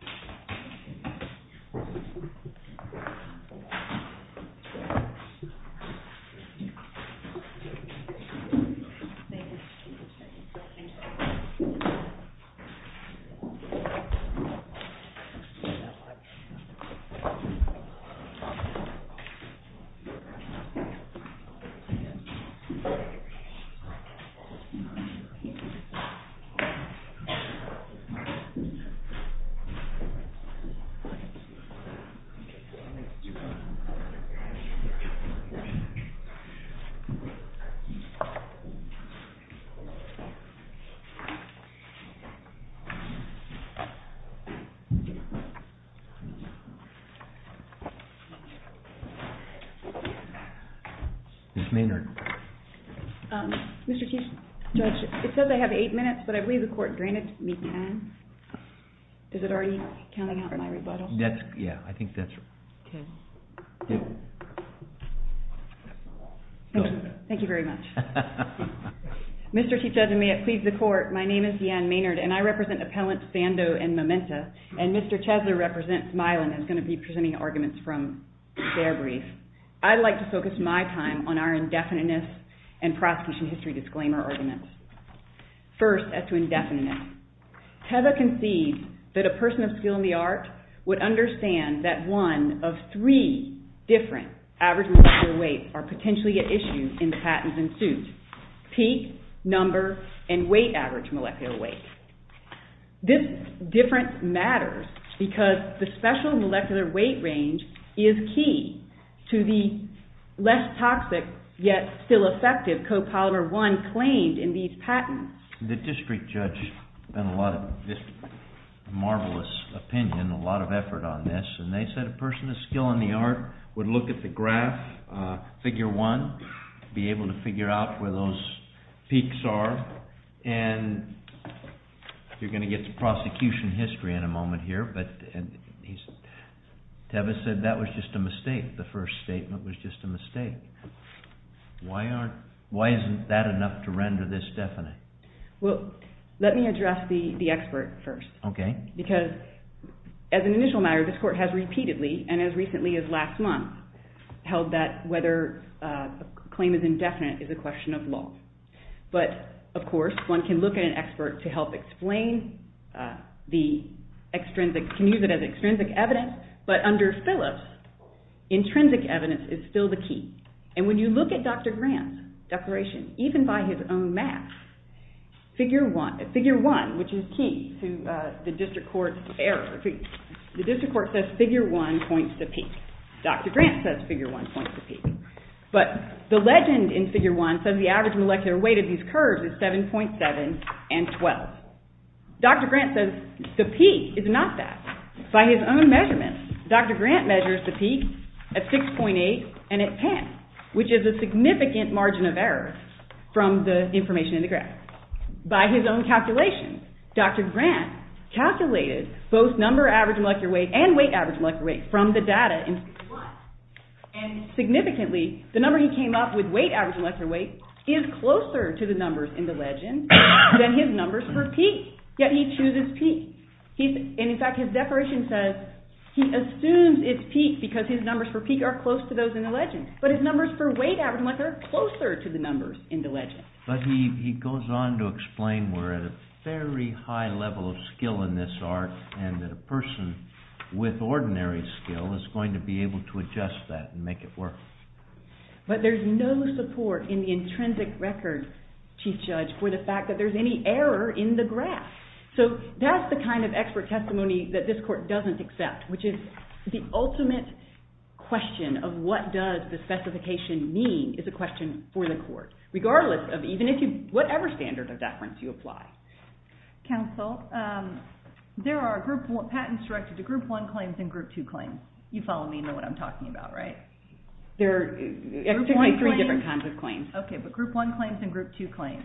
v. SANDOZ INC. v. PHARMACEUTICALS May it please the Court, my name is DeAnne Maynard and I represent Appellants Sandoz and Mementa and Mr. Chaessler represents Milan, who is going to be presenting arguments from their brief. I'd like to focus my time on our indefiniteness and prosecution that a person of skill in the art would understand that one of three different average molecular weight are potentially at issue in the patents in suit. Peak, number, and weight average molecular weight. This difference matters because the special molecular weight range is key to the less toxic yet still effective copolymer one claimed in these patents. The district judge spent a lot of this marvelous opinion, a lot of effort on this, and they said a person of skill in the art would look at the graph, figure one, be able to figure out where those peaks are, and you're going to get to prosecution history in a moment here, but he said that was just a mistake, the first statement was just a mistake. Why aren't, why isn't that enough to render this definite? Well, let me address the expert first. Okay. Because, as an initial matter, this Court has repeatedly, and as recently as last month, held that whether a claim is indefinite is a question of law. But, of course, one can look at an expert to help explain the extrinsic, can use it as extrinsic evidence, but under Phillips, intrinsic evidence is still the key. And when you look at Dr. Grant's declaration, even by his own math, figure one, which is key to the district court error, the district court says figure one points to peak. Dr. Grant says figure one points to peak. But the legend in figure one says the average molecular weight of these curves is 7.7 and 12. Dr. Grant says the peak is not that. By his own measurements, Dr. Grant measures the peak at 6.8 and at 10, which is a significant margin of error from the information in the grant. By his own calculations, Dr. Grant calculated both number average molecular weight and weight average molecular weight from the data in figure one. And significantly, the number he came up with, weight average molecular weight, is closer to the numbers in the legend than his numbers for peak. Yet he chooses peak. And, in fact, his declaration says he assumes it's peak because his numbers for peak are close to those in the legend. But his numbers for weight average molecular weight are closer to the numbers in the legend. But he goes on to explain we're at a very high level of skill in this art and that a person with ordinary skill is going to be able to adjust that and make it work. But there's no support in the intrinsic record, Chief Judge, for the fact that there's any error in the graph. So that's the kind of expert testimony that this court doesn't accept, which is the ultimate question of what does the specification mean is a question for the court. Regardless of whatever standard of deference you apply. Counsel, there are patents directed to group one claims and group two claims. You follow me and know what I'm talking about, right? There are three different kinds of claims. Okay, but group one claims and group two claims.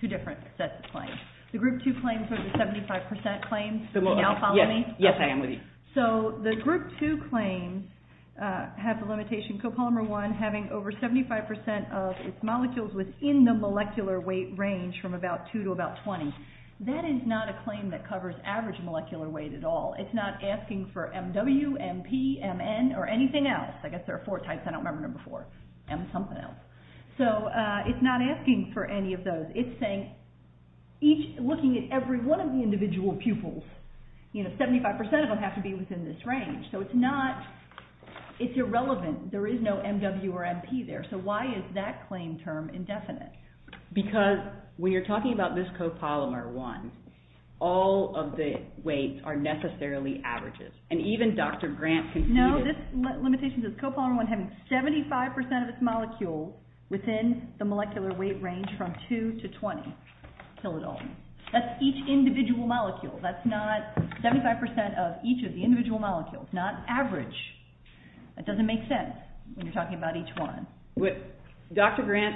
Two different sets of claims. The group two claims are the 75% claims. Do you now follow me? Yes, I am with you. So the group two claims have the limitation copolymer one having over 75% of its molecules within the molecular weight range from about two to about 20. That is not a claim that covers average molecular weight at all. It's not asking for MW, MP, MN, or anything else. I guess there are four types. I don't remember number four. M something else. So it's not asking for any of those. It's looking at every one of the individual pupils. 75% of them have to be within this range. So it's irrelevant. There is no MW or MP there. So why is that claim term indefinite? Because when you're talking about this copolymer one, all of the weights are necessarily averages. And even Dr. Grant can see this. Copolymer one having 75% of its molecule within the molecular weight range from two to 20 kilodalton. That's each individual molecule. That's not 75% of each of the individual molecules. Not average. That doesn't make sense when you're talking about each one. Dr. Grant,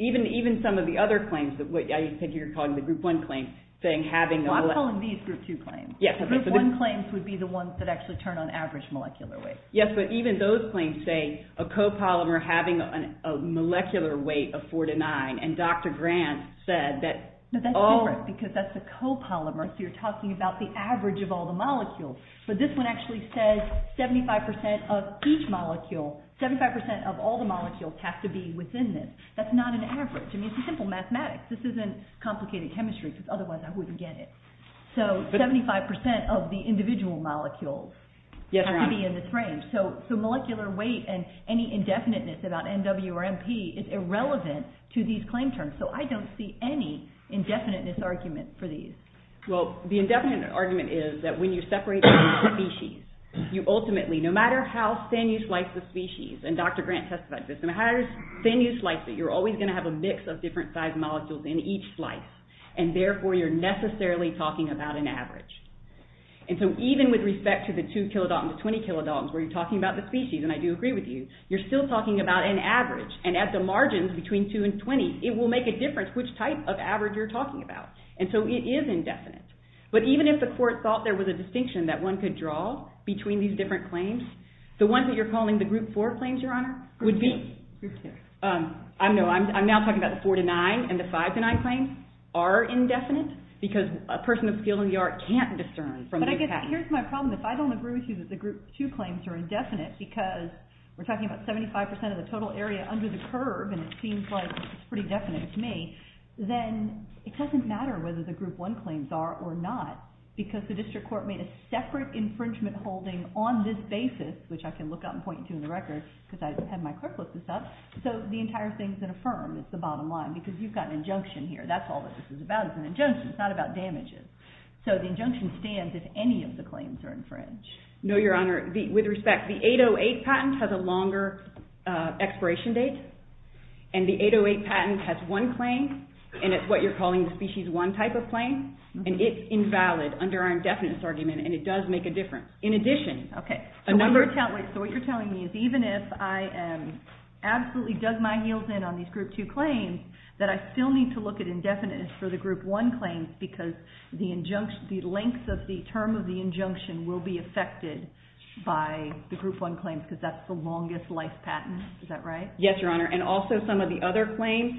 even some of the other claims, I think you're calling the group one claims. I'm calling these group two claims. Group one claims would be the ones that actually turn on average molecular weight. Yes, but even those claims say a copolymer having a molecular weight of four to nine. And Dr. Grant said that all... No, that's different because that's a copolymer. So you're talking about the average of all the molecules. But this one actually says 75% of each molecule, 75% of all the molecules have to be within this. That's not an average. I mean, it's simple mathematics. This isn't complicated chemistry because otherwise I wouldn't get it. So 75% of the individual molecules have to be in this range. So molecular weight and any indefiniteness about NW or NP is irrelevant to these claim terms. So I don't see any indefiniteness argument for these. Well, the indefinite argument is that when you separate species, you ultimately, no matter how thin you slice the species, and Dr. Grant testified to this, no matter how thin you slice it, you're always going to have a mix of different sized molecules in each slice. And therefore, you're necessarily talking about an average. And so even with respect to the two kilodaltons, the 20 kilodaltons, where you're talking about the species, and I do agree with you, you're still talking about an average. And at the margins between two and 20, it will make a difference which type of average you're talking about. And so it is indefinite. But even if the court thought there was a distinction that one could draw between these different claims, the ones that you're calling the group four claims, Your Honor, would be... Group two. No, I'm now talking about the four-to-nine and the five-to-nine claims are indefinite because a person of skill in the art can't discern from this pattern. But I guess here's my problem. If I don't agree with you that the group two claims are indefinite because we're talking about 75% of the total area under the curve, and it seems like it's pretty definite to me, then it doesn't matter whether the group one claims are or not because the district court made a separate infringement holding on this basis, which I can look up and point to in the record because I had my clerk look this up. So the entire thing is an affirm. It's the bottom line because you've got an injunction here. That's all this is about is an injunction. It's not about damages. So the injunction stands if any of the claims are infringed. No, Your Honor. With respect, the 808 patent has a longer expiration date, and the 808 patent has one claim, and it's what you're calling the species one type of claim, and it's invalid under our indefinite argument, and it does make a difference. In addition... Okay. So what you're telling me is even if I absolutely dug my heels in on these group two claims, that I still need to look at indefinite for the group one claims because the lengths of the term of the injunction will be affected by the group one claims because that's the longest life patent. Is that right? Yes, Your Honor, and also some of the other claims,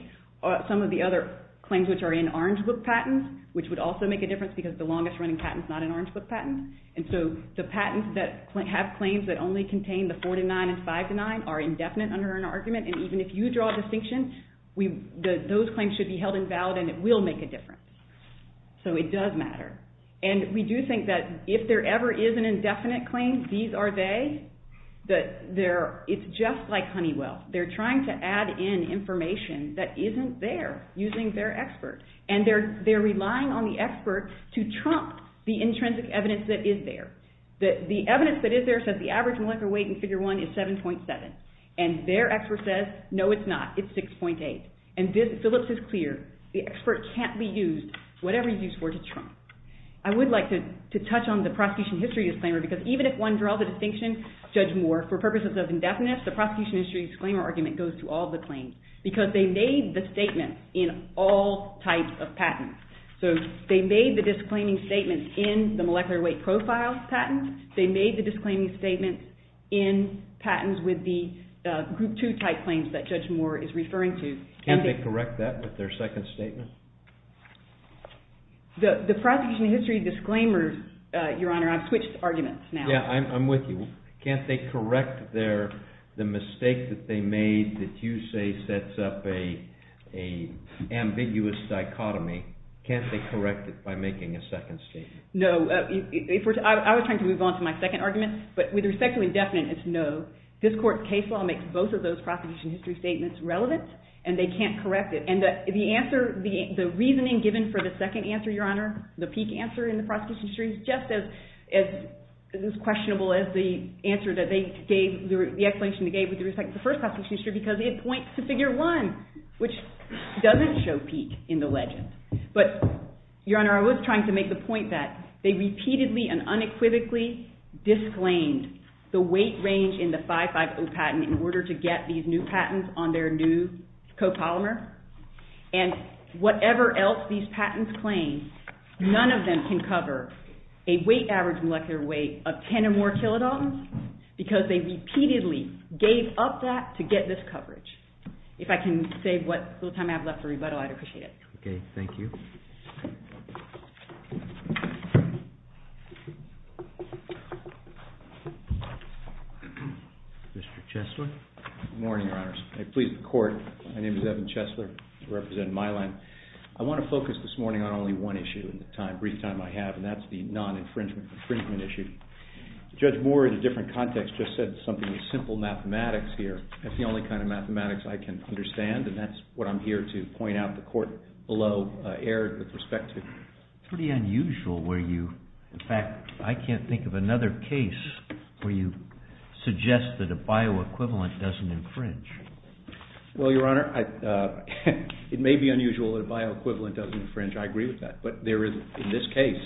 some of the other claims which are in orange book patents, which would also make a difference because the longest running patent is not an orange book patent, and so the patents that have claims that only contain the four to nine and five to nine are indefinite under an argument, and even if you draw a distinction, those claims should be held invalid, and it will make a difference. So it does matter. And we do think that if there ever is an indefinite claim, these are they. It's just like Honeywell. They're trying to add in information that isn't there using their experts, and they're relying on the expert to trump the intrinsic evidence that is there. The evidence that is there says the average molecular weight in figure one is 7.7, and their expert says, no, it's not. It's 6.8, and Phillips is clear. The expert can't be used, whatever he's used for, to trump. I would like to touch on the prosecution history disclaimer because even if one draws a distinction, Judge Moore, for purposes of indefinite, the prosecution history disclaimer argument goes to all the claims because they made the statement in all types of patents. So they made the disclaiming statement in the molecular weight profile patent. They made the disclaiming statement in patents with the group two type claims that Judge Moore is referring to. Can't they correct that with their second statement? The prosecution history disclaimer, Your Honor, I've switched arguments now. Yeah, I'm with you. Can't they correct the mistake that they made that you say sets up an ambiguous dichotomy? Can't they correct it by making a second statement? No. I was trying to move on to my second argument, but with respect to indefinite, it's no. This court's case law makes both of those prosecution history statements relevant, and they can't correct it. And the reasoning given for the second answer, Your Honor, the peak answer in the prosecution history is just as questionable as the answer that they gave, the explanation they gave with respect to the first prosecution history because it points to figure one, which doesn't show peak in the legend. But, Your Honor, I was trying to make the point that they repeatedly and unequivocally disclaimed the weight range in the 550 patent in order to get these new patents on their new copolymer. And whatever else these patents claim, none of them can cover a weight average molecular weight of 10 or more kilodaltons because they repeatedly gave up that to get this coverage. If I can save what little time I have left for rebuttal, I'd appreciate it. Okay. Thank you. Good morning, Your Honors. I please the court. My name is Evan Chesler. I represent Mylan. I want to focus this morning on only one issue in the brief time I have, and that's the non-infringement issue. Judge Moore, in a different context, just said something with simple mathematics here. That's the only kind of mathematics I can understand, and that's what I'm here to point out the court below erred with respect to. It's pretty unusual where you, in fact, I can't think of another case where you suggest that a bioequivalent doesn't infringe. Well, Your Honor, it may be unusual that a bioequivalent doesn't infringe. I agree with that. But there is, in this case,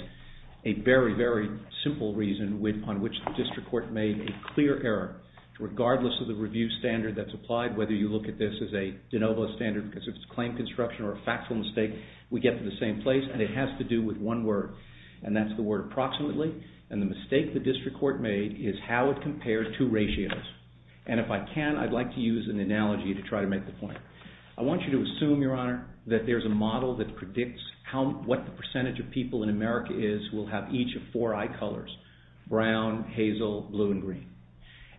a very, very simple reason upon which the district court made a clear error. Regardless of the review standard that's applied, whether you look at this as a de novo standard because it's a claim construction or a factual mistake, we get to the same place, and it has to do with one word, and that's the word approximately. And the mistake the district court made is how it compared two ratios. And if I can, I'd like to use an analogy to try to make the point. I want you to assume, Your Honor, that there's a model that predicts what the percentage of people in America is will have each of four eye colors, brown, hazel, blue, and green.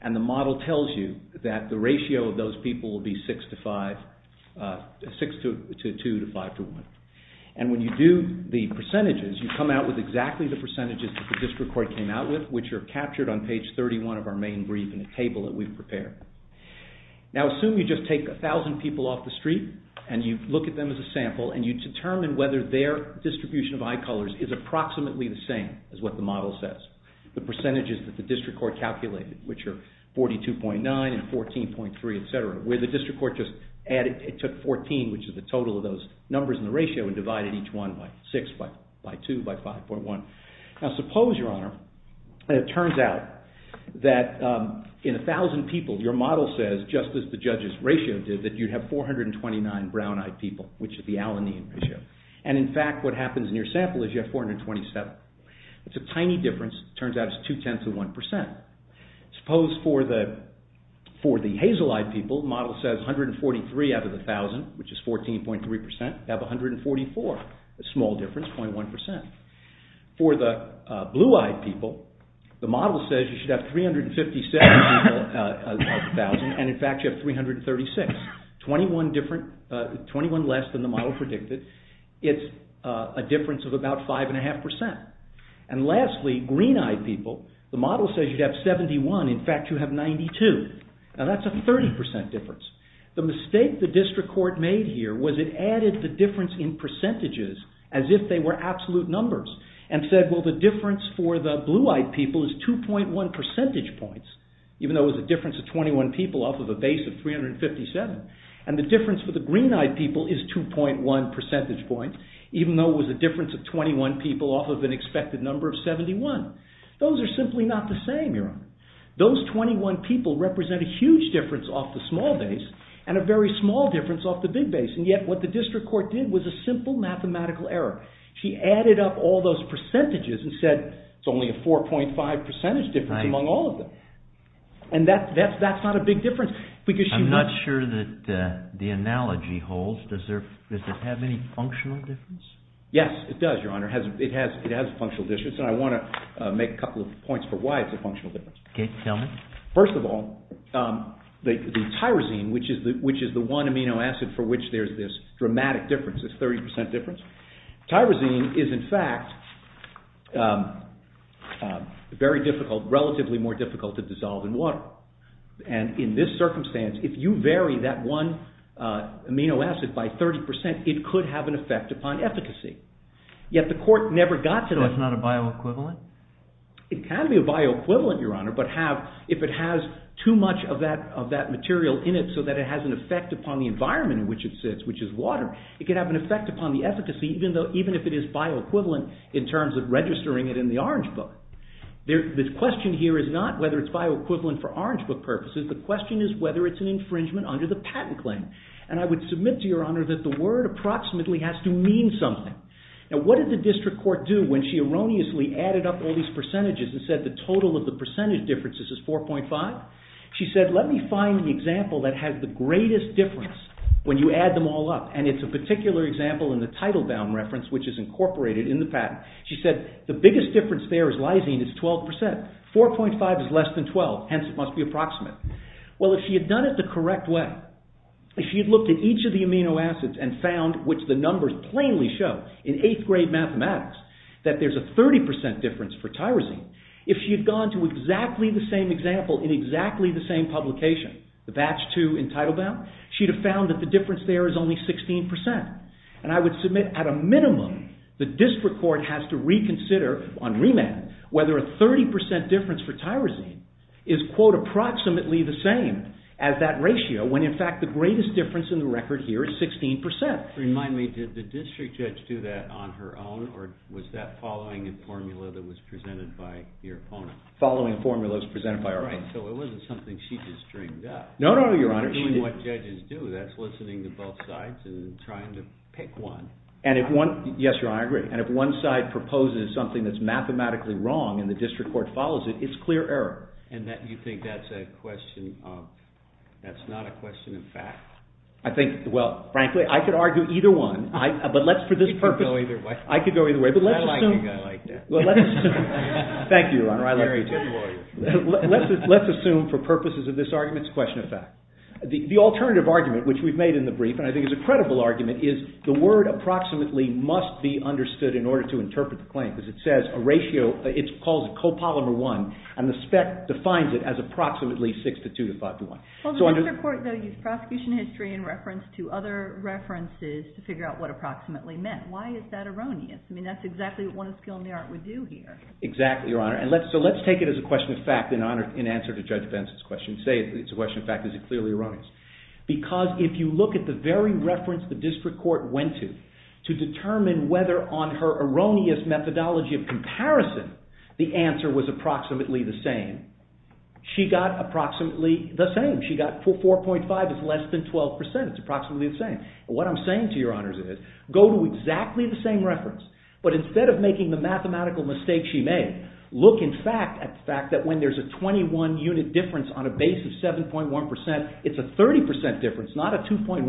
And the model tells you that the ratio of those people will be 6 to 2, to 5 to 1. And when you do the percentages, you come out with exactly the percentages that the district court came out with, which are captured on page 31 of our main brief in a table that we've prepared. Now, assume you just take 1,000 people off the street, and you look at them as a sample, and you determine whether their distribution of eye colors is approximately the same as what the model says, the percentages that the district court calculated, which are 42.9 and 14.3, etc., which is the total of those numbers in the ratio, and divided each one by 6, by 2, by 5.1. Now, suppose, Your Honor, that it turns out that in 1,000 people, your model says, just as the judges' ratio did, that you'd have 429 brown-eyed people, which is the alanine ratio. And in fact, what happens in your sample is you have 427. It's a tiny difference. It turns out it's 2 tenths of 1%. Suppose for the hazel-eyed people, the model says 143 out of 1,000, which is 14.3%, you have 144, a small difference, 0.1%. For the blue-eyed people, the model says you should have 357 people out of 1,000, and in fact you have 336, 21 less than the model predicted. It's a difference of about 5.5%. And lastly, green-eyed people, the model says you'd have 71, in fact you have 92. Now that's a 30% difference. The mistake the district court made here was it added the difference in percentages as if they were absolute numbers, and said, well, the difference for the blue-eyed people is 2.1 percentage points, even though it was a difference of 21 people off of a base of 357. And the difference for the green-eyed people is 2.1 percentage points, even though it was a difference of 21 people off of an expected number of 71. Those are simply not the same, Your Honor. Those 21 people represent a huge difference off the small base, and a very small difference off the big base. And yet what the district court did was a simple mathematical error. She added up all those percentages and said, it's only a 4.5 percentage difference among all of them. And that's not a big difference. I'm not sure that the analogy holds. Does it have any functional difference? Yes, it does, Your Honor. It has functional difference, and I want to make a couple of points for why it's a functional difference. First of all, the tyrosine, which is the one amino acid for which there's this dramatic difference, this 30% difference, tyrosine is in fact very difficult, relatively more difficult to dissolve in water. And in this circumstance, if you vary that one amino acid by 30%, it could have an effect upon efficacy. Yet the court never got to that. It can be a bioequivalent, Your Honor, but if it has too much of that material in it so that it has an effect upon the environment in which it sits, which is water, it could have an effect upon the efficacy, even if it is bioequivalent in terms of registering it in the Orange Book. The question here is not whether it's bioequivalent for Orange Book purposes. The question is whether it's an infringement under the patent claim. And I would submit to Your Honor that the word approximately has to mean something. Now what did the district court do when she erroneously added up all these percentages and said the total of the percentage differences is 4.5? She said, let me find an example that has the greatest difference when you add them all up. And it's a particular example in the title bound reference, which is incorporated in the patent. She said, the biggest difference there is lysine, it's 12%. 4.5 is less than 12, hence it must be approximate. Well, if she had done it the correct way, if she had looked at each of the amino acids and found, which the numbers plainly show in eighth grade mathematics, that there's a 30% difference for tyrosine, if she had gone to exactly the same example in exactly the same publication, the batch two in title bound, she'd have found that the difference there is only 16%. And I would submit at a minimum the district court has to reconsider on remand whether a 30% difference for tyrosine is, quote, approximately the same as that ratio when in fact the greatest difference in the record here is 16%. Remind me, did the district judge do that on her own or was that following a formula that was presented by your opponent? Following formulas presented by our opponent. So it wasn't something she just dreamed up. No, no, no, your honor. Doing what judges do, that's listening to both sides and trying to pick one. And if one, yes, your honor, I agree. And if one side proposes something that's mathematically wrong and the district court follows it, it's clear error. And you think that's a question of, that's not a question of fact? I think, well, frankly, I could argue either one. You could go either way. I could go either way, but let's assume. I think I like that. Thank you, your honor. Let's assume, for purposes of this argument, it's a question of fact. The alternative argument, which we've made in the brief, and I think it's a credible argument, is the word approximately must be understood in order to interpret the claim, because it says a ratio, it calls it copolymer one, and the spec defines it as approximately six to two to five to one. Well, the district court, though, used prosecution history in reference to other references to figure out what approximately meant. Why is that erroneous? I mean, that's exactly what one of Skilnert would do here. Exactly, your honor. So let's take it as a question of fact in answer to Judge Benson's question. Say it's a question of fact. Is it clearly erroneous? Because if you look at the very reference the district court went to to determine whether on her erroneous methodology of comparison the answer was approximately the same, she got approximately the same. She got 4.5 is less than 12%. It's approximately the same. What I'm saying to your honors is, go to exactly the same reference, but instead of making the mathematical mistake she made, look in fact at the fact that when there's a 21 unit difference on a base of 7.1%, it's a 30% difference, not a 2.1%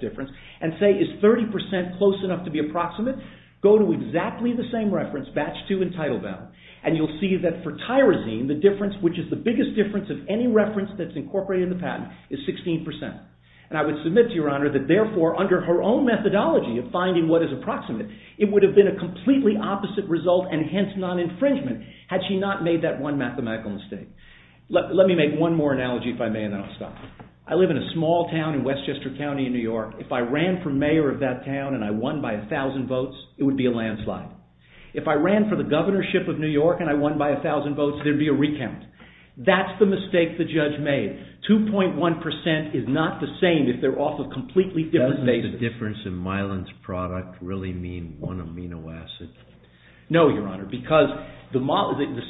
difference, and say is 30% close enough to be approximate? Go to exactly the same reference, batch two and title bell, and you'll see that for tyrosine, the difference which is the biggest difference of any reference that's incorporated in the patent is 16%. And I would submit to your honor that therefore under her own methodology of finding what is approximate, it would have been a completely opposite result and hence non-infringement had she not made that one mathematical mistake. Let me make one more analogy if I may, and then I'll stop. I live in a small town in Westchester County in New York. If I ran for mayor of that town and I won by 1,000 votes, it would be a landslide. If I ran for the governorship of New York and I won by 1,000 votes, there'd be a recount. That's the mistake the judge made. 2.1% is not the same if they're off of completely different bases. Does the difference in myelin's product really mean one amino acid? No, your honor, because the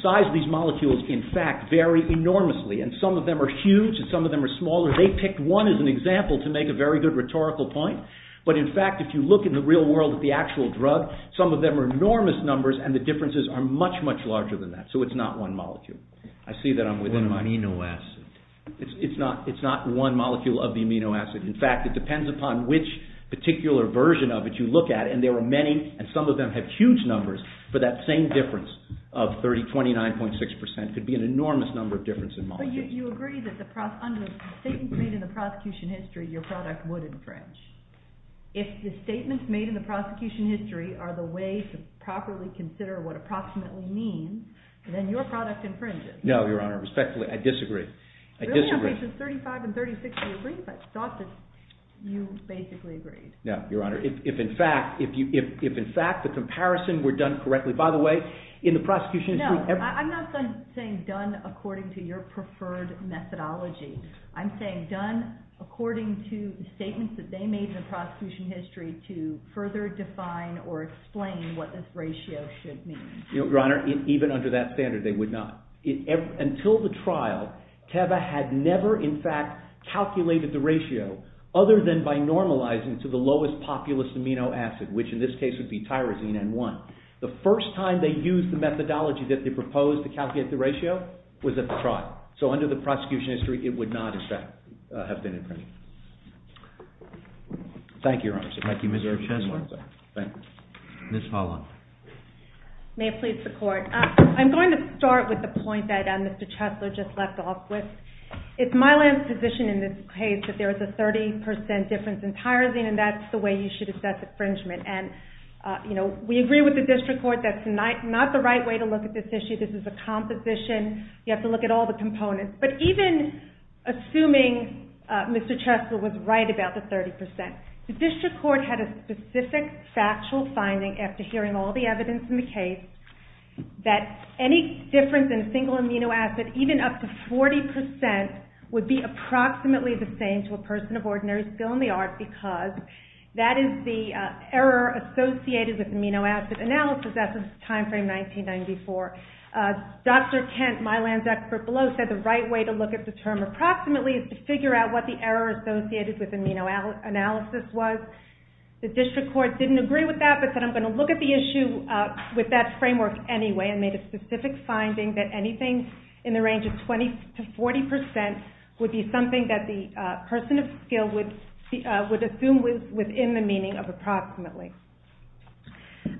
size of these molecules, in fact, vary enormously. And some of them are huge and some of them are smaller. They picked one as an example to make a very good rhetorical point. But in fact, if you look in the real world at the actual drug, some of them are enormous numbers and the differences are much, much larger than that. I see that I'm within my... One amino acid. It's not one molecule of the amino acid. In fact, it depends upon which particular version of it you look at and there are many and some of them have huge numbers but that same difference of 29.6% could be an enormous number of difference in molecules. But you agree that under statements made in the prosecution history your product would infringe. If the statements made in the prosecution history are the way to properly consider what approximately means, then your product infringes. No, your honor. Respectfully, I disagree. Really, on pages 35 and 36, I thought that you basically agreed. No, your honor. If in fact, the comparison were done correctly, by the way, in the prosecution history... No, I'm not saying done according to your preferred methodology. I'm saying done according to the statements that they made in the prosecution history to further define or explain what this ratio should mean. Your honor, even under that standard, they would not. Until the trial, Teva had never in fact calculated the ratio other than by normalizing to the lowest populous amino acid, which in this case would be tyrosine N1. The first time they used the methodology that they proposed to calculate the ratio was at the trial. So under the prosecution history, it would not, in fact, have been infringed. Thank you, your honor. Thank you, Mr. Chesler. Ms. Pollack. May it please the court. I'm going to start with the point that Mr. Chesler just left off with. It's my land's position in this case that there is a 30% difference in tyrosine and that's the way you should assess infringement. And, you know, we agree with the district court that's not the right way to look at this issue. This is a composition. You have to look at all the components. But even assuming Mr. Chesler was right about the 30%, the district court had a specific factual finding after hearing all the evidence in the case that any difference in a single amino acid, even up to 40%, would be approximately the same to a person of ordinary skill in the art because that is the error associated with amino acid analysis. That's the time frame 1994. Dr. Kent, my land's expert below, said the right way to look at the term approximately is to figure out what the error associated with amino acid analysis was. The district court didn't agree with that but said I'm going to look at the issue with that framework anyway and made a specific finding that anything in the range of 20% to 40% would be something that the person of skill would assume was within the meaning of approximately.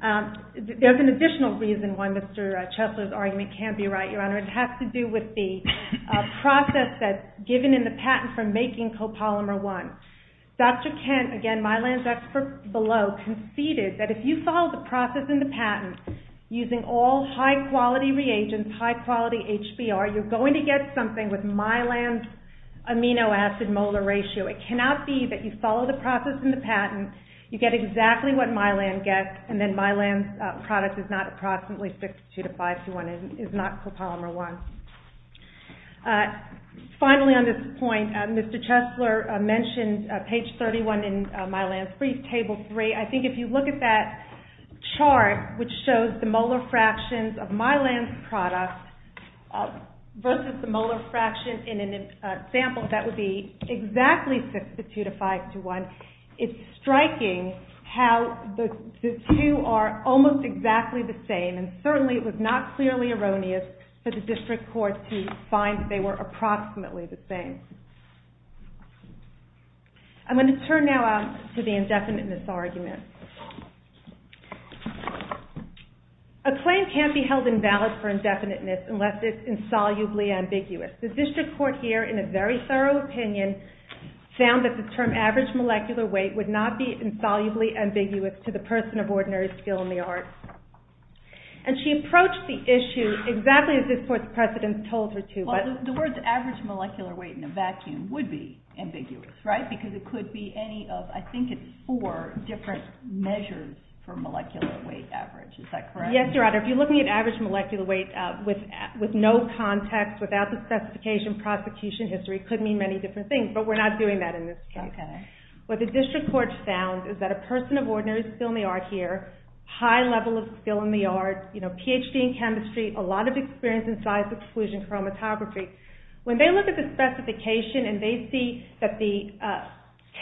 There's an additional reason why Mr. Chesler's argument can't be right, Your Honor. It has to do with the process that's given in the patent for making copolymer 1. Dr. Kent, again, my land's expert below, conceded that if you follow the process in the patent using all high-quality reagents, using high-quality HBR, you're going to get something with my land's amino acid molar ratio. It cannot be that you follow the process in the patent, you get exactly what my land gets, and then my land's product is not approximately 62 to 521 and is not copolymer 1. Finally on this point, Mr. Chesler mentioned page 31 in my land's brief, table 3. I think if you look at that chart which shows the molar fractions of my land's product versus the molar fraction in a sample that would be exactly 62 to 521, it's striking how the two are almost exactly the same and certainly it was not clearly erroneous for the district court to find that they were approximately the same. I'm going to turn now to the indefinite mis-argument. A claim can't be held invalid for indefiniteness unless it's insolubly ambiguous. The district court here, in a very thorough opinion, found that the term average molecular weight would not be insolubly ambiguous to the person of ordinary skill in the art. And she approached the issue exactly as this court's precedent told her to. The words average molecular weight in a vacuum would be ambiguous, right? Because it could be any of, I think it's four, different measures for molecular weight average. Is that correct? Yes, Your Honor. If you're looking at average molecular weight with no context, without the specification prosecution history, it could mean many different things, but we're not doing that in this case. What the district court found is that a person of ordinary skill in the art here, high level of skill in the art, PhD in chemistry, a lot of experience in science exclusion chromatography, when they look at the specification and they see that the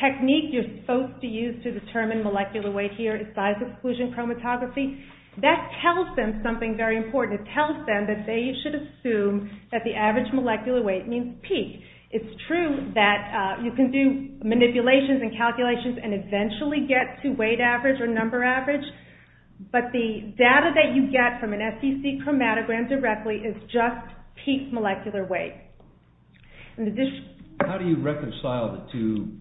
technique you're supposed to use to determine molecular weight here is science exclusion chromatography, that tells them something very important. It tells them that they should assume that the average molecular weight means peak. It's true that you can do manipulations and calculations and eventually get to weight average or number average, but the data that you get from an SEC chromatogram directly is just peak molecular weight. How do you reconcile the two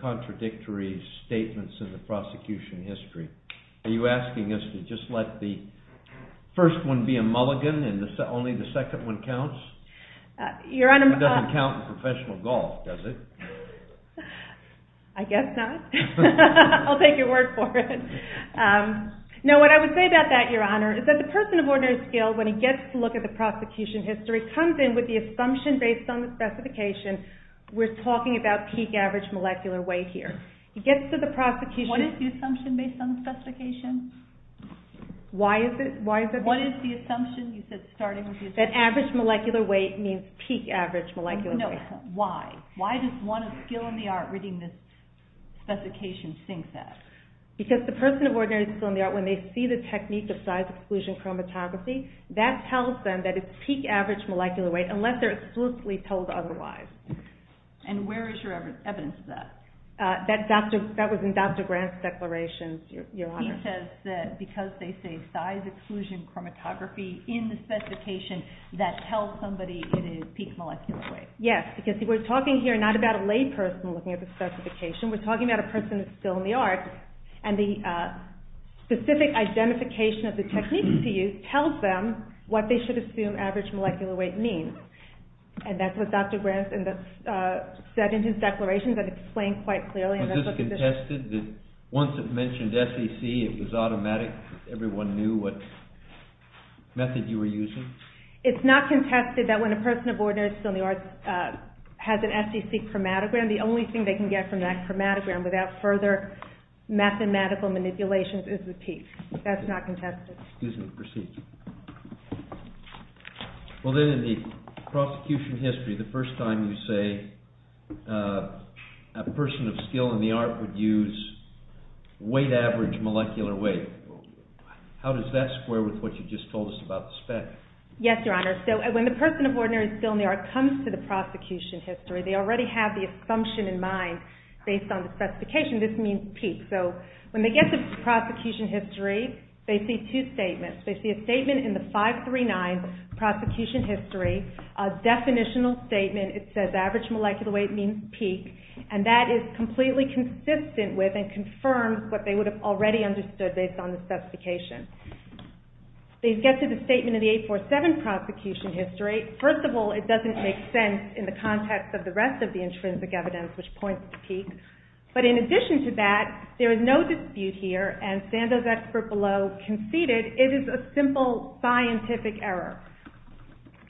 contradictory statements in the prosecution history? Are you asking us to just let the first one be a mulligan and only the second one counts? It doesn't count in professional golf, does it? I guess not. I'll take your word for it. No, what I would say about that, Your Honor, is that the person of ordinary skill, when he gets to look at the prosecution history, comes in with the assumption based on the specification we're talking about peak average molecular weight here. He gets to the prosecution... What is the assumption based on the specification? Why is it... What is the assumption you said starting with the... That average molecular weight means peak average molecular weight. No, why? Why does one of skill in the art reading this specification think that? Because the person of ordinary skill in the art, when they see the technique of science exclusion chromatography, that tells them that it's peak average molecular weight unless they're exclusively told otherwise. And where is your evidence of that? That was in Dr. Grant's declarations, Your Honor. He says that because they say size exclusion chromatography in the specification, that tells somebody it is peak molecular weight. Yes, because we're talking here not about a lay person looking at the specification. We're talking about a person of skill in the art, and the specific identification of the technique to use tells them what they should assume average molecular weight means. And that's what Dr. Grant said in his declarations that explain quite clearly. Was this contested that once it mentioned SEC, it was automatic, everyone knew what method you were using? It's not contested that when a person of ordinary skill in the arts has an SEC chromatogram, the only thing they can get from that chromatogram without further mathematical manipulations is the peak. That's not contested. Excuse me. Proceed. Well, then in the prosecution history, the first time you say a person of skill in the art would use weight average molecular weight, how does that square with what you just told us about the spec? Yes, Your Honor. So when the person of ordinary skill in the art comes to the prosecution history, they already have the assumption in mind based on the specification this means peak. So when they get to the prosecution history, they see two statements. They see a statement in the 539 prosecution history, a definitional statement. It says average molecular weight means peak, and that is completely consistent with and confirms what they would have already understood based on the specification. They get to the statement in the 847 prosecution history. First of all, it doesn't make sense in the context of the rest of the intrinsic evidence, which points to peak. But in addition to that, there is no dispute here, and Sandoz expert below conceded it is a simple scientific error.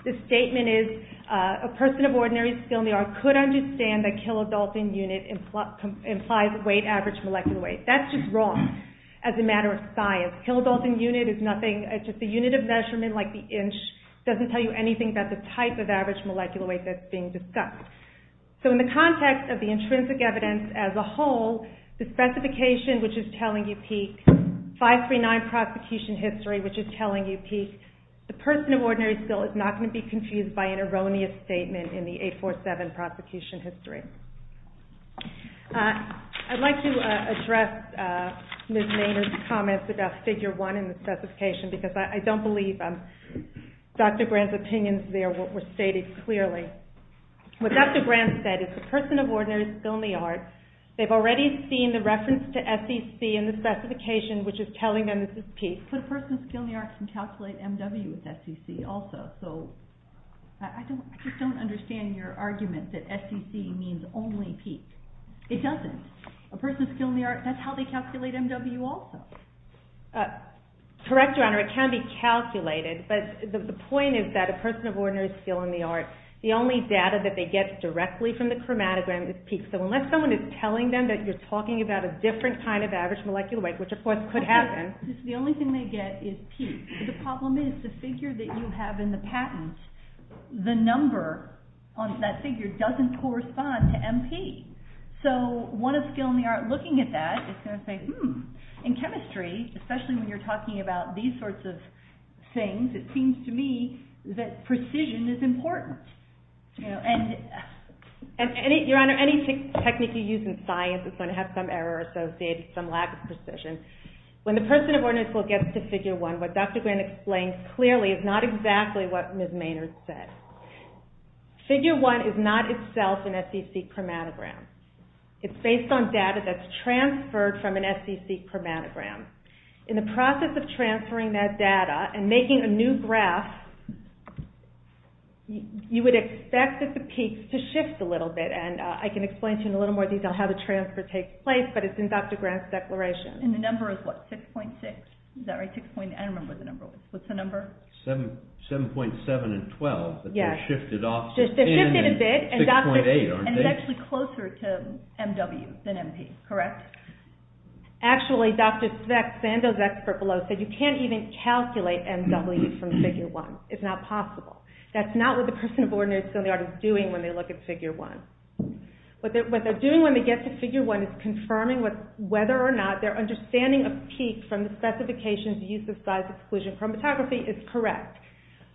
The statement is, a person of ordinary skill in the art could understand that kilodalton unit implies weight average molecular weight. That's just wrong as a matter of science. Kilodalton unit is nothing. It's just a unit of measurement like the inch. It doesn't tell you anything about the type of average molecular weight that's being discussed. So in the context of the intrinsic evidence as a whole, the specification, which is telling you peak, 539 prosecution history, which is telling you peak, the person of ordinary skill is not going to be confused by an erroneous statement in the 847 prosecution history. I'd like to address Ms. Nader's comments about figure 1 in the specification, because I don't believe Dr. Grant's opinions there were stated clearly. What Dr. Grant said is, the person of ordinary skill in the art, they've already seen the reference to SEC in the specification, which is telling them this is peak. But a person of skill in the art can calculate MW with SEC also, so I just don't understand your argument that SEC means only peak. It doesn't. A person of skill in the art, that's how they calculate MW also. Correct, Your Honor, it can be calculated, but the point is that a person of ordinary skill in the art, the only data that they get directly from the chromatogram is peak, so unless someone is telling them that you're talking about a different kind of average molecular weight, which of course could happen. The only thing they get is peak. The problem is the figure that you have in the patent, the number on that figure doesn't correspond to MP. So one of skill in the art looking at that is going to say, hmm, in chemistry, especially when you're talking about these sorts of things, it seems to me that precision is important. And, Your Honor, any technique you use in science is going to have some error associated, some lack of precision. When the person of ordinary skill gets to Figure 1, what Dr. Grant explains clearly is not exactly what Ms. Maynard said. Figure 1 is not itself an SEC chromatogram. It's based on data that's transferred from an SEC chromatogram. In the process of transferring that data and making a new graph, you would expect that the peaks to shift a little bit, and I can explain to you in a little more detail how the transfer takes place, but it's in Dr. Grant's declaration. And the number is what, 6.6? Is that right, 6.6? I don't remember what the number was. What's the number? 7.7 and 12, but they're shifted off. They're shifted a bit. 6.8, aren't they? And it's actually closer to MW than MP, correct? Actually, Dr. Sandow's expert below said you can't even calculate MW from Figure 1. It's not possible. That's not what the person of ordinary skill in the art is doing when they look at Figure 1. What they're doing when they get to Figure 1 is confirming whether or not their understanding of peak from the specifications use of size exclusion chromatography is correct.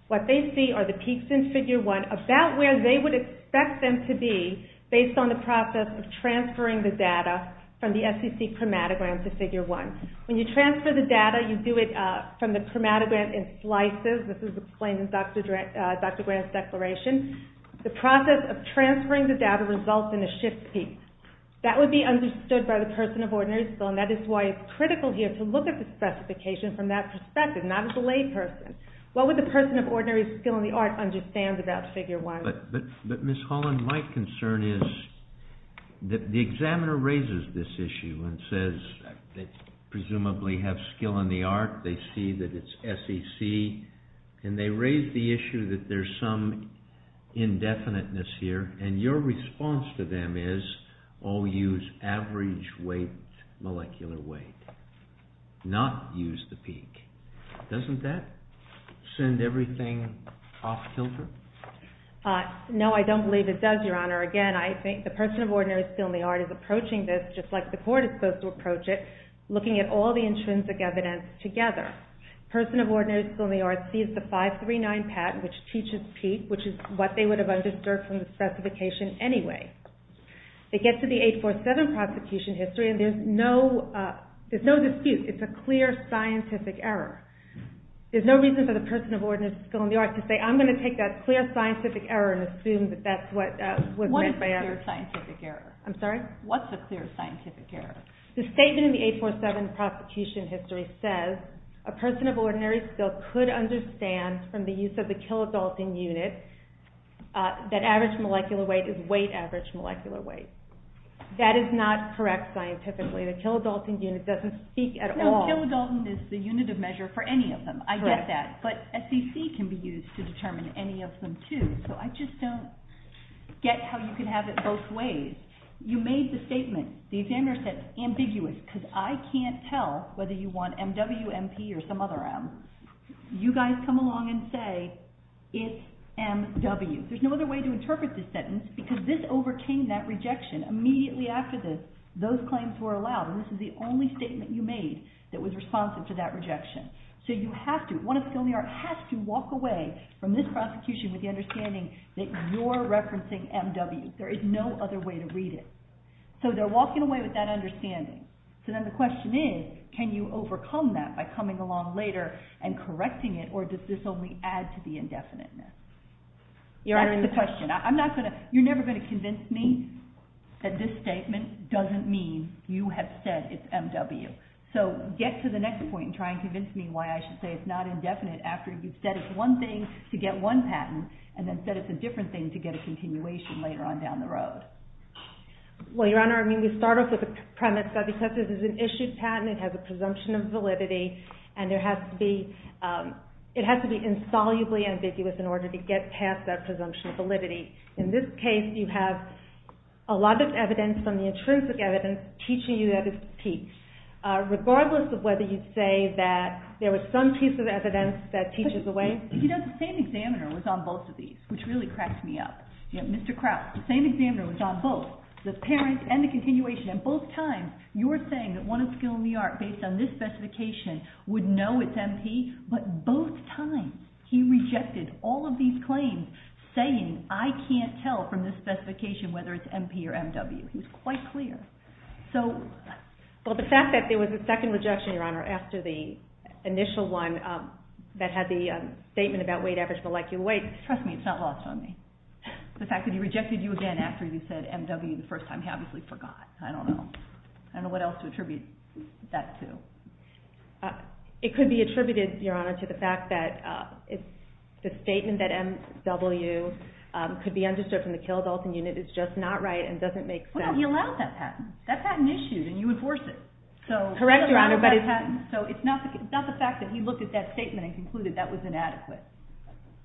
What they see are the peaks in Figure 1 about where they would expect them to be based on the process of transferring the data from the SEC chromatogram to Figure 1. When you transfer the data, you do it from the chromatogram in slices. This is explained in Dr. Grant's declaration. The process of transferring the data results in a shift peak. That would be understood by the person of ordinary skill, and that is why it's critical here to look at the specification from that perspective, not as a layperson. What would the person of ordinary skill in the art understand about Figure 1? But Ms. Holland, my concern is that the examiner raises this issue and says they presumably have skill in the art. They see that it's SEC, and they raise the issue that there's some indefiniteness here. And your response to them is, oh, use average weight, molecular weight, not use the peak. Doesn't that send everything off-kilter? No, I don't believe it does, Your Honor. Again, I think the person of ordinary skill in the art is approaching this just like the court is supposed to approach it, looking at all the intrinsic evidence together. The person of ordinary skill in the art sees the 539 patent, which teaches peak, which is what they would have understood from the specification anyway. They get to the 847 prosecution history, and there's no dispute. It's a clear scientific error. There's no reason for the person of ordinary skill in the art to say, I'm going to take that clear scientific error and assume that that's what was meant by error. What is a clear scientific error? I'm sorry? What's a clear scientific error? The statement in the 847 prosecution history says a person of ordinary skill could understand from the use of the kilodalton unit that average molecular weight is weight average molecular weight. That is not correct scientifically. The kilodalton unit doesn't speak at all. No, kilodalton is the unit of measure for any of them. I get that. But SCC can be used to determine any of them too. So I just don't get how you can have it both ways. You made the statement, the examiner said, ambiguous, because I can't tell whether you want MWMP or some other M. You guys come along and say it's MW. There's no other way to interpret this sentence because this overcame that rejection. Immediately after this, those claims were allowed. This is the only statement you made that was responsive to that rejection. So you have to, one of the skill in the art has to walk away from this prosecution with the understanding that you're referencing MW. There is no other way to read it. So they're walking away with that understanding. So then the question is, can you overcome that by coming along later and correcting it, or does this only add to the indefiniteness? That's the question. You're never going to convince me that this statement doesn't mean you have said it's MW. So get to the next point and try and convince me why I should say it's not indefinite after you said it's one thing to get one patent and then said it's a different thing to get a continuation later on down the road. Well, Your Honor, I mean, we start off with the premise that because this is an issued patent, it has a presumption of validity, and it has to be insolubly ambiguous in order to get past that presumption of validity. In this case, you have a lot of evidence, from the intrinsic evidence, teaching you that it's P. Regardless of whether you say that there was some piece of evidence that teaches away... You know, the same examiner was on both of these, which really cracked me up. Mr. Kraut, the same examiner was on both, At both times, you were saying that one of the skill in the art, based on this specification, would know it's M.P., but both times, he rejected all of these claims, saying, I can't tell from this specification whether it's M.P. or M.W. He was quite clear. So... Well, the fact that there was a second rejection, Your Honor, after the initial one that had the statement about weight average molecular weight, trust me, it's not lost on me. The fact that he rejected you again after you said M.W. the first time, he obviously forgot. I don't know. I don't know what else to attribute that to. It could be attributed, Your Honor, to the fact that the statement that M.W. could be undisturbed from the kill-adulting unit is just not right and doesn't make sense. Well, he allowed that patent. That patent issued, and you enforce it. Correct, Your Honor, but it's... So it's not the fact that he looked at that statement and concluded that was inadequate.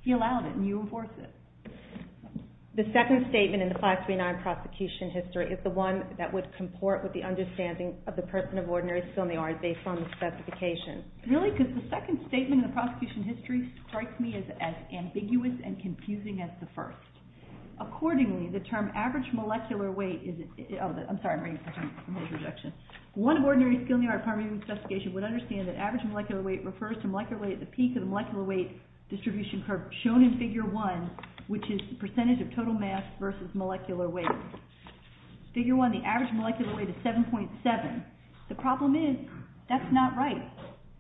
He allowed it, and you enforce it. The second statement in the 539 prosecution history is the one that would comport with the understanding of the person of ordinary skill in the art based on the specification. Really? Because the second statement in the prosecution history strikes me as ambiguous and confusing as the first. Accordingly, the term average molecular weight is... Oh, I'm sorry, I'm reading the whole rejection. One of ordinary skill in the art primary investigation would understand that average molecular weight refers to molecular weight at the peak of the molecular weight distribution curve shown in Figure 1, which is the percentage of total mass versus molecular weight. Figure 1, the average molecular weight is 7.7. The problem is, that's not right.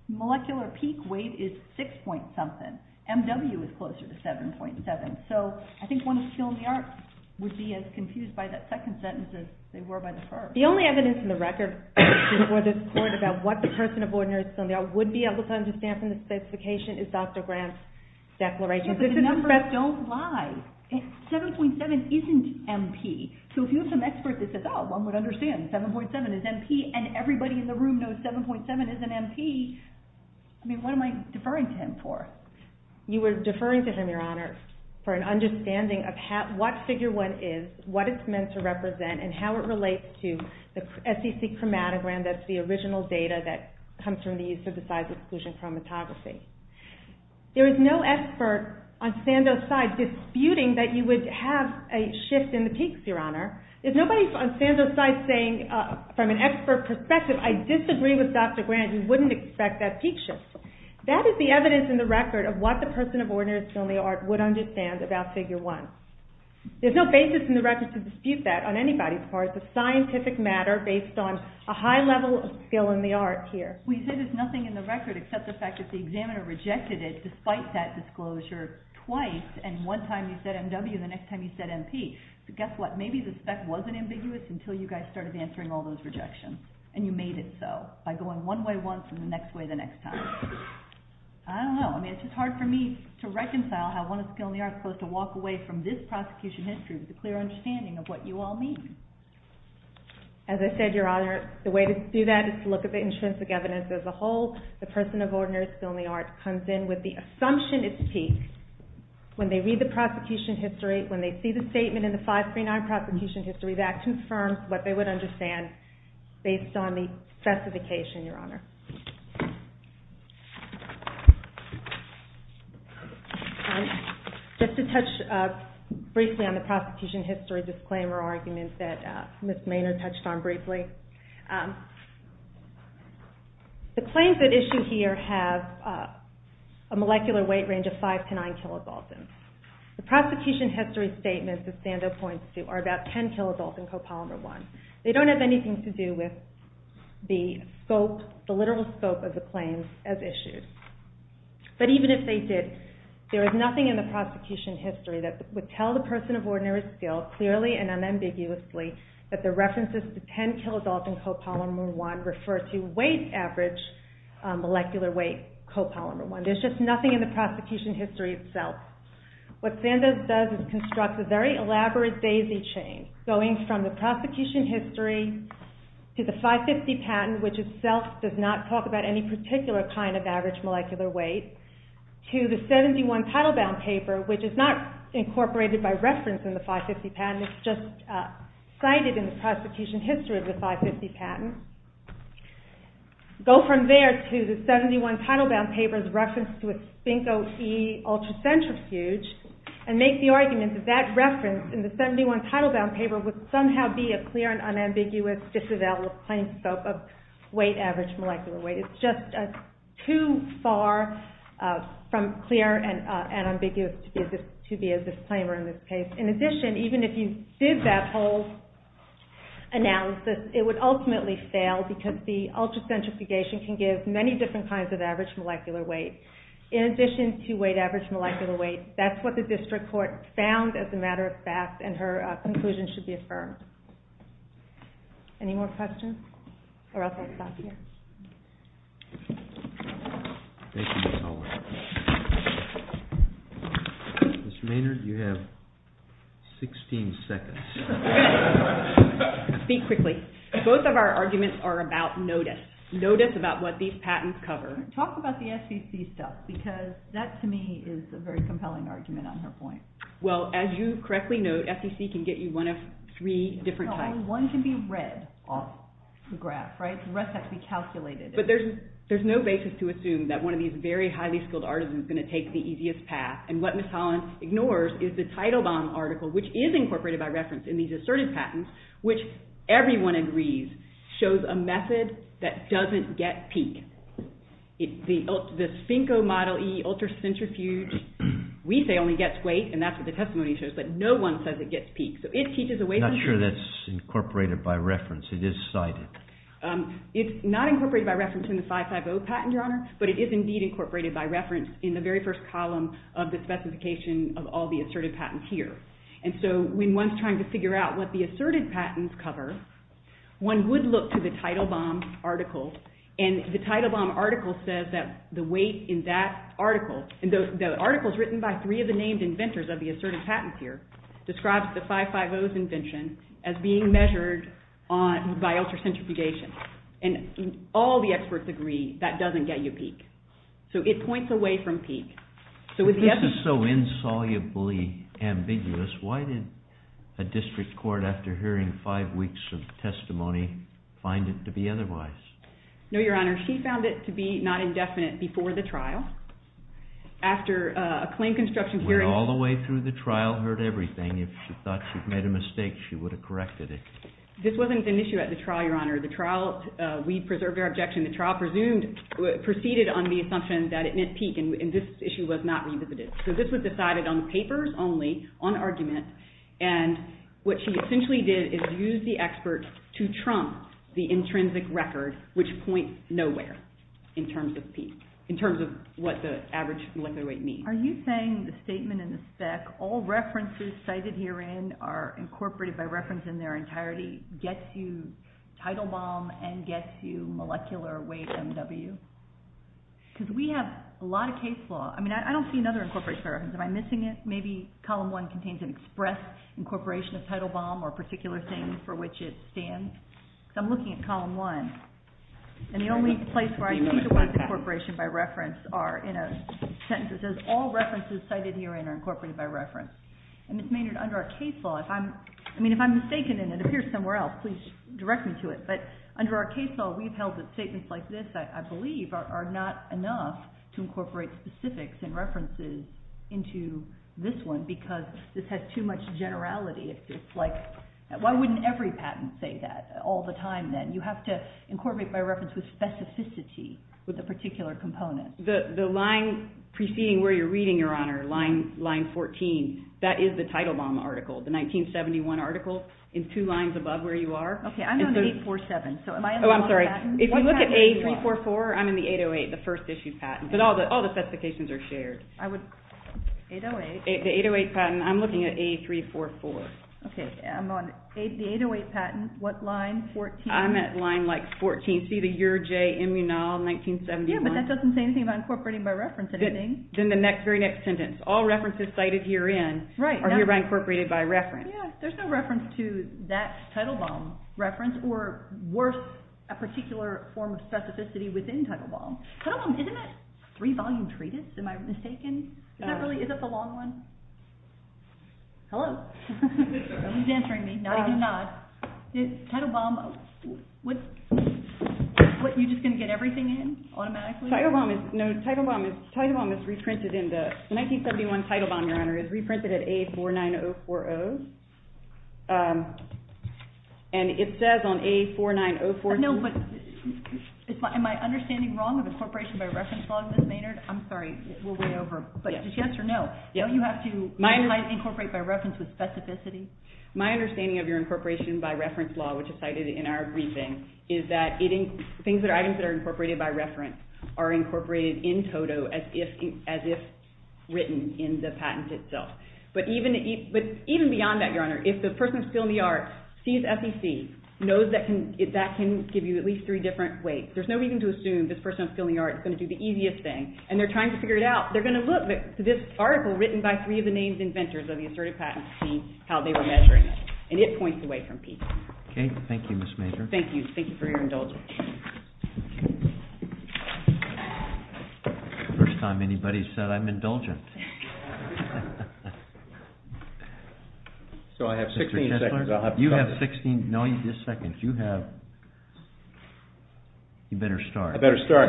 Molecular peak weight is 6 point something. MW is closer to 7.7. So I think one of skill in the art would be as confused by that second sentence as they were by the first. The only evidence in the record before this Court about what the person of ordinary skill in the art would be able to understand from the specification is Dr. Grant's declaration. But the numbers don't lie. 7.7 isn't MP. So if you have some expert that says, oh, one would understand 7.7 is MP and everybody in the room knows 7.7 isn't MP, I mean, what am I deferring to him for? You were deferring to him, Your Honor, for an understanding of what Figure 1 is, what it's meant to represent, and how it relates to the SEC chromatogram that's the original data that comes from the use of the size exclusion chromatography. There is no expert on Sando's side disputing that you would have a shift in the peaks, Your Honor. There's nobody on Sando's side saying from an expert perspective, I disagree with Dr. Grant, you wouldn't expect that peak shift. That is the evidence in the record of what the person of ordinary skill in the art would understand about Figure 1. There's no basis in the record to dispute that on anybody's part. It's a scientific matter based on a high level of skill in the art here. Well, you say there's nothing in the record except the fact that the examiner rejected it despite that disclosure twice and one time you said M.W. and the next time you said M.P. Guess what? Maybe the spec wasn't ambiguous until you guys started answering all those rejections and you made it so by going one way once and the next way the next time. I don't know. I mean, it's just hard for me to reconcile how one of skill in the art is supposed to walk away from this prosecution history with a clear understanding of what you all mean. As I said, Your Honor, the way to do that is to look at the intrinsic evidence as a whole. The person of ordinary skill in the art comes in with the assumption it's peak when they read the prosecution history, when they see the statement in the 539 prosecution history, that confirms what they would understand based on the specification, Your Honor. Just to touch briefly on the prosecution history disclaimer argument that Ms. Maynard touched on briefly. The claims at issue here have a molecular weight range of 5 to 9 kilopaltins. The prosecution history statements that Sandoz points to are about 10 kilopaltins copolymer 1. They don't have anything to do with the literal scope of the claims as issued. But even if they did, there is nothing in the prosecution history that would tell the person of ordinary skill clearly and unambiguously that the references to 10 kilopaltins copolymer 1 would refer to weight average molecular weight copolymer 1. There's just nothing in the prosecution history itself. What Sandoz does is construct a very elaborate daisy chain going from the prosecution history to the 550 patent, which itself does not talk about any particular kind of average molecular weight, to the 71 title bound paper, which is not incorporated by reference in the 550 patent, it's just cited in the prosecution history of the 550 patent. Go from there to the 71 title bound paper's reference to a sphinco-e ultracentrifuge and make the argument that that reference in the 71 title bound paper would somehow be a clear and unambiguous disavowal of claims of weight average molecular weight. It's just too far from clear and unambiguous to be a disclaimer in this case. In addition, even if you did that whole analysis, it would ultimately fail because the ultracentrifugation can give many different kinds of average molecular weight. In addition to weight average molecular weight, that's what the district court found as a matter of fact and her conclusion should be affirmed. Any more questions? Or else I'll stop here. Mr. Maynard, you have 16 seconds. Speak quickly. Both of our arguments are about notice. Notice about what these patents cover. Talk about the SEC stuff because that to me is a very compelling argument on her point. Well, as you correctly note, SEC can get you one of three different types. No, one can be read off the graph, right? The rest have to be calculated. But there's no basis to assume that one of these very highly skilled artisans is going to take the easiest path and what Ms. Collins ignores is the title bound article which is incorporated by reference in these assertive patents which everyone agrees shows a method that doesn't get peak. The Finko Model E Ultracentrifuge we say only gets weight and that's what the testimony shows but no one says it gets peak. Not sure that's incorporated by reference. It is cited. It's not incorporated by reference in the 550 patent, Your Honor, but it is indeed incorporated by reference in the very first column of the specification of all the assertive patents here. And so when one's trying to figure out what the assertive patents cover, one would look to the title bound article and the title bound article says that the weight in that article and the article's written by three of the named inventors of the assertive patents here describes the 550's invention as being measured by ultracentrifugation and all the experts agree that doesn't get you peak. So it points away from peak. If this is so insolubly ambiguous, why did a district court after hearing five weeks of testimony find it to be otherwise? No, Your Honor. She found it to be not indefinite before the trial. After a claim construction hearing... Went all the way through the trial, heard everything. If she thought she'd made a mistake, she would have corrected it. This wasn't an issue at the trial, Your Honor. The trial, we preserved our objection. The trial presumed, proceeded on the assumption that it meant peak and this issue was not revisited. So this was decided on papers only, on argument, and what she essentially did is use the expert to trump the intrinsic record which points nowhere in terms of peak, in terms of what the average molecular weight means. Are you saying the statement in the spec, all references cited herein are incorporated by reference in their entirety, gets you title bomb and gets you molecular weight MW? Because we have a lot of case law. I don't see another incorporation by reference. Am I missing it? Maybe column one contains an express incorporation of title bomb or a particular thing for which it stands. I'm looking at column one and the only place where I see the word incorporation by reference are in a sentence that says all references cited herein are incorporated by reference. Ms. Maynard, under our case law, if I'm mistaken and it appears somewhere else, please direct me to it, but under our case law, we've held that statements like this, I believe, are not enough to incorporate specifics and references into this one because this has too much generality. It's like, why wouldn't every patent say that all the time then? You have to incorporate by reference with specificity with a particular component. The line preceding where you're reading, Your Honor, line 14, that is the title bomb article, the 1971 article in two lines above where you are. Okay, I'm on 847, so am I in the wrong patent? Oh, I'm sorry. If you look at A344, I'm in the 808, the first issued patent, but all the specifications are shared. 808? The 808 patent. I'm looking at A344. Okay, I'm on the 808 patent. What line? 14. I'm at line 14. See the Your J. Immunol, 1971. Yeah, but that doesn't say anything about incorporating by reference. Then the very next sentence, all references cited herein are hereby incorporated by reference. Yeah, there's no reference to that title bomb reference or worth a particular form of specificity within title bomb. Title bomb, isn't that three-volume treatise? Am I mistaken? Is that really, is it the long one? Hello? Someone's answering me, nodding his nod. Title bomb, what, you just going to get everything in automatically? Title bomb is, no, title bomb is, title bomb is reprinted it says on A49040, it says on A49040, it says on A49040, it says on A49040, it says on A49040, it says on A49040, am I understanding wrong of incorporation by reference law, Ms. Maynard? I'm sorry, we'll weigh over, but yes or no, don't you have to incorporate by reference with specificity? My understanding of your incorporation by reference law, which is cited in our briefing, is that things that are items that are incorporated by reference are incorporated in toto as if written in the patent itself. But even beyond that, Your Honor, if the person still in the yard sees FEC, knows that can, that can give you at least three different references, there's no reason to assume this person in the yard is going to do the easiest thing and they're trying to figure it out. They're going to look at this article written by three of the names inventors of the assertive patents and see how they were measuring it. And it points away from FEC. Okay, thank you, Ms. Maynard. Thank you. Thank you for your indulgence. First time anybody has said I'm indulgent. So I have 16 seconds. Mr. Kessler, you have 16, no, just seconds. You have, you better start. I better start.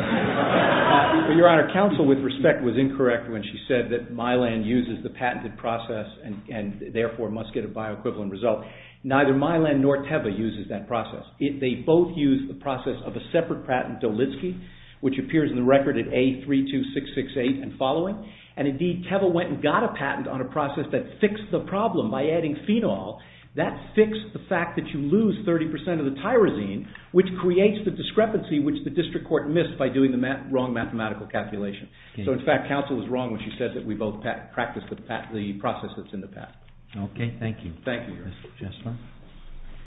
Your Honor, counsel with respect was incorrect when she said that Mylan uses the patented process and therefore must get a bioequivalent result. Neither Mylan nor Teva uses that process. They both use the process of a separate patent, Dolitsky, which appears in the record at A32668 and following. And indeed, Teva went and got a patent on a process that fixed the problem by adding phenol. That fixed the fact that you lose 30% of the tyrosine which creates the discrepancy which the district court missed by doing the wrong mathematical calculation. So in fact, counsel was wrong when she said that we both practiced the process that's in the patent. Okay. Thank you. Thank you, Your Honor.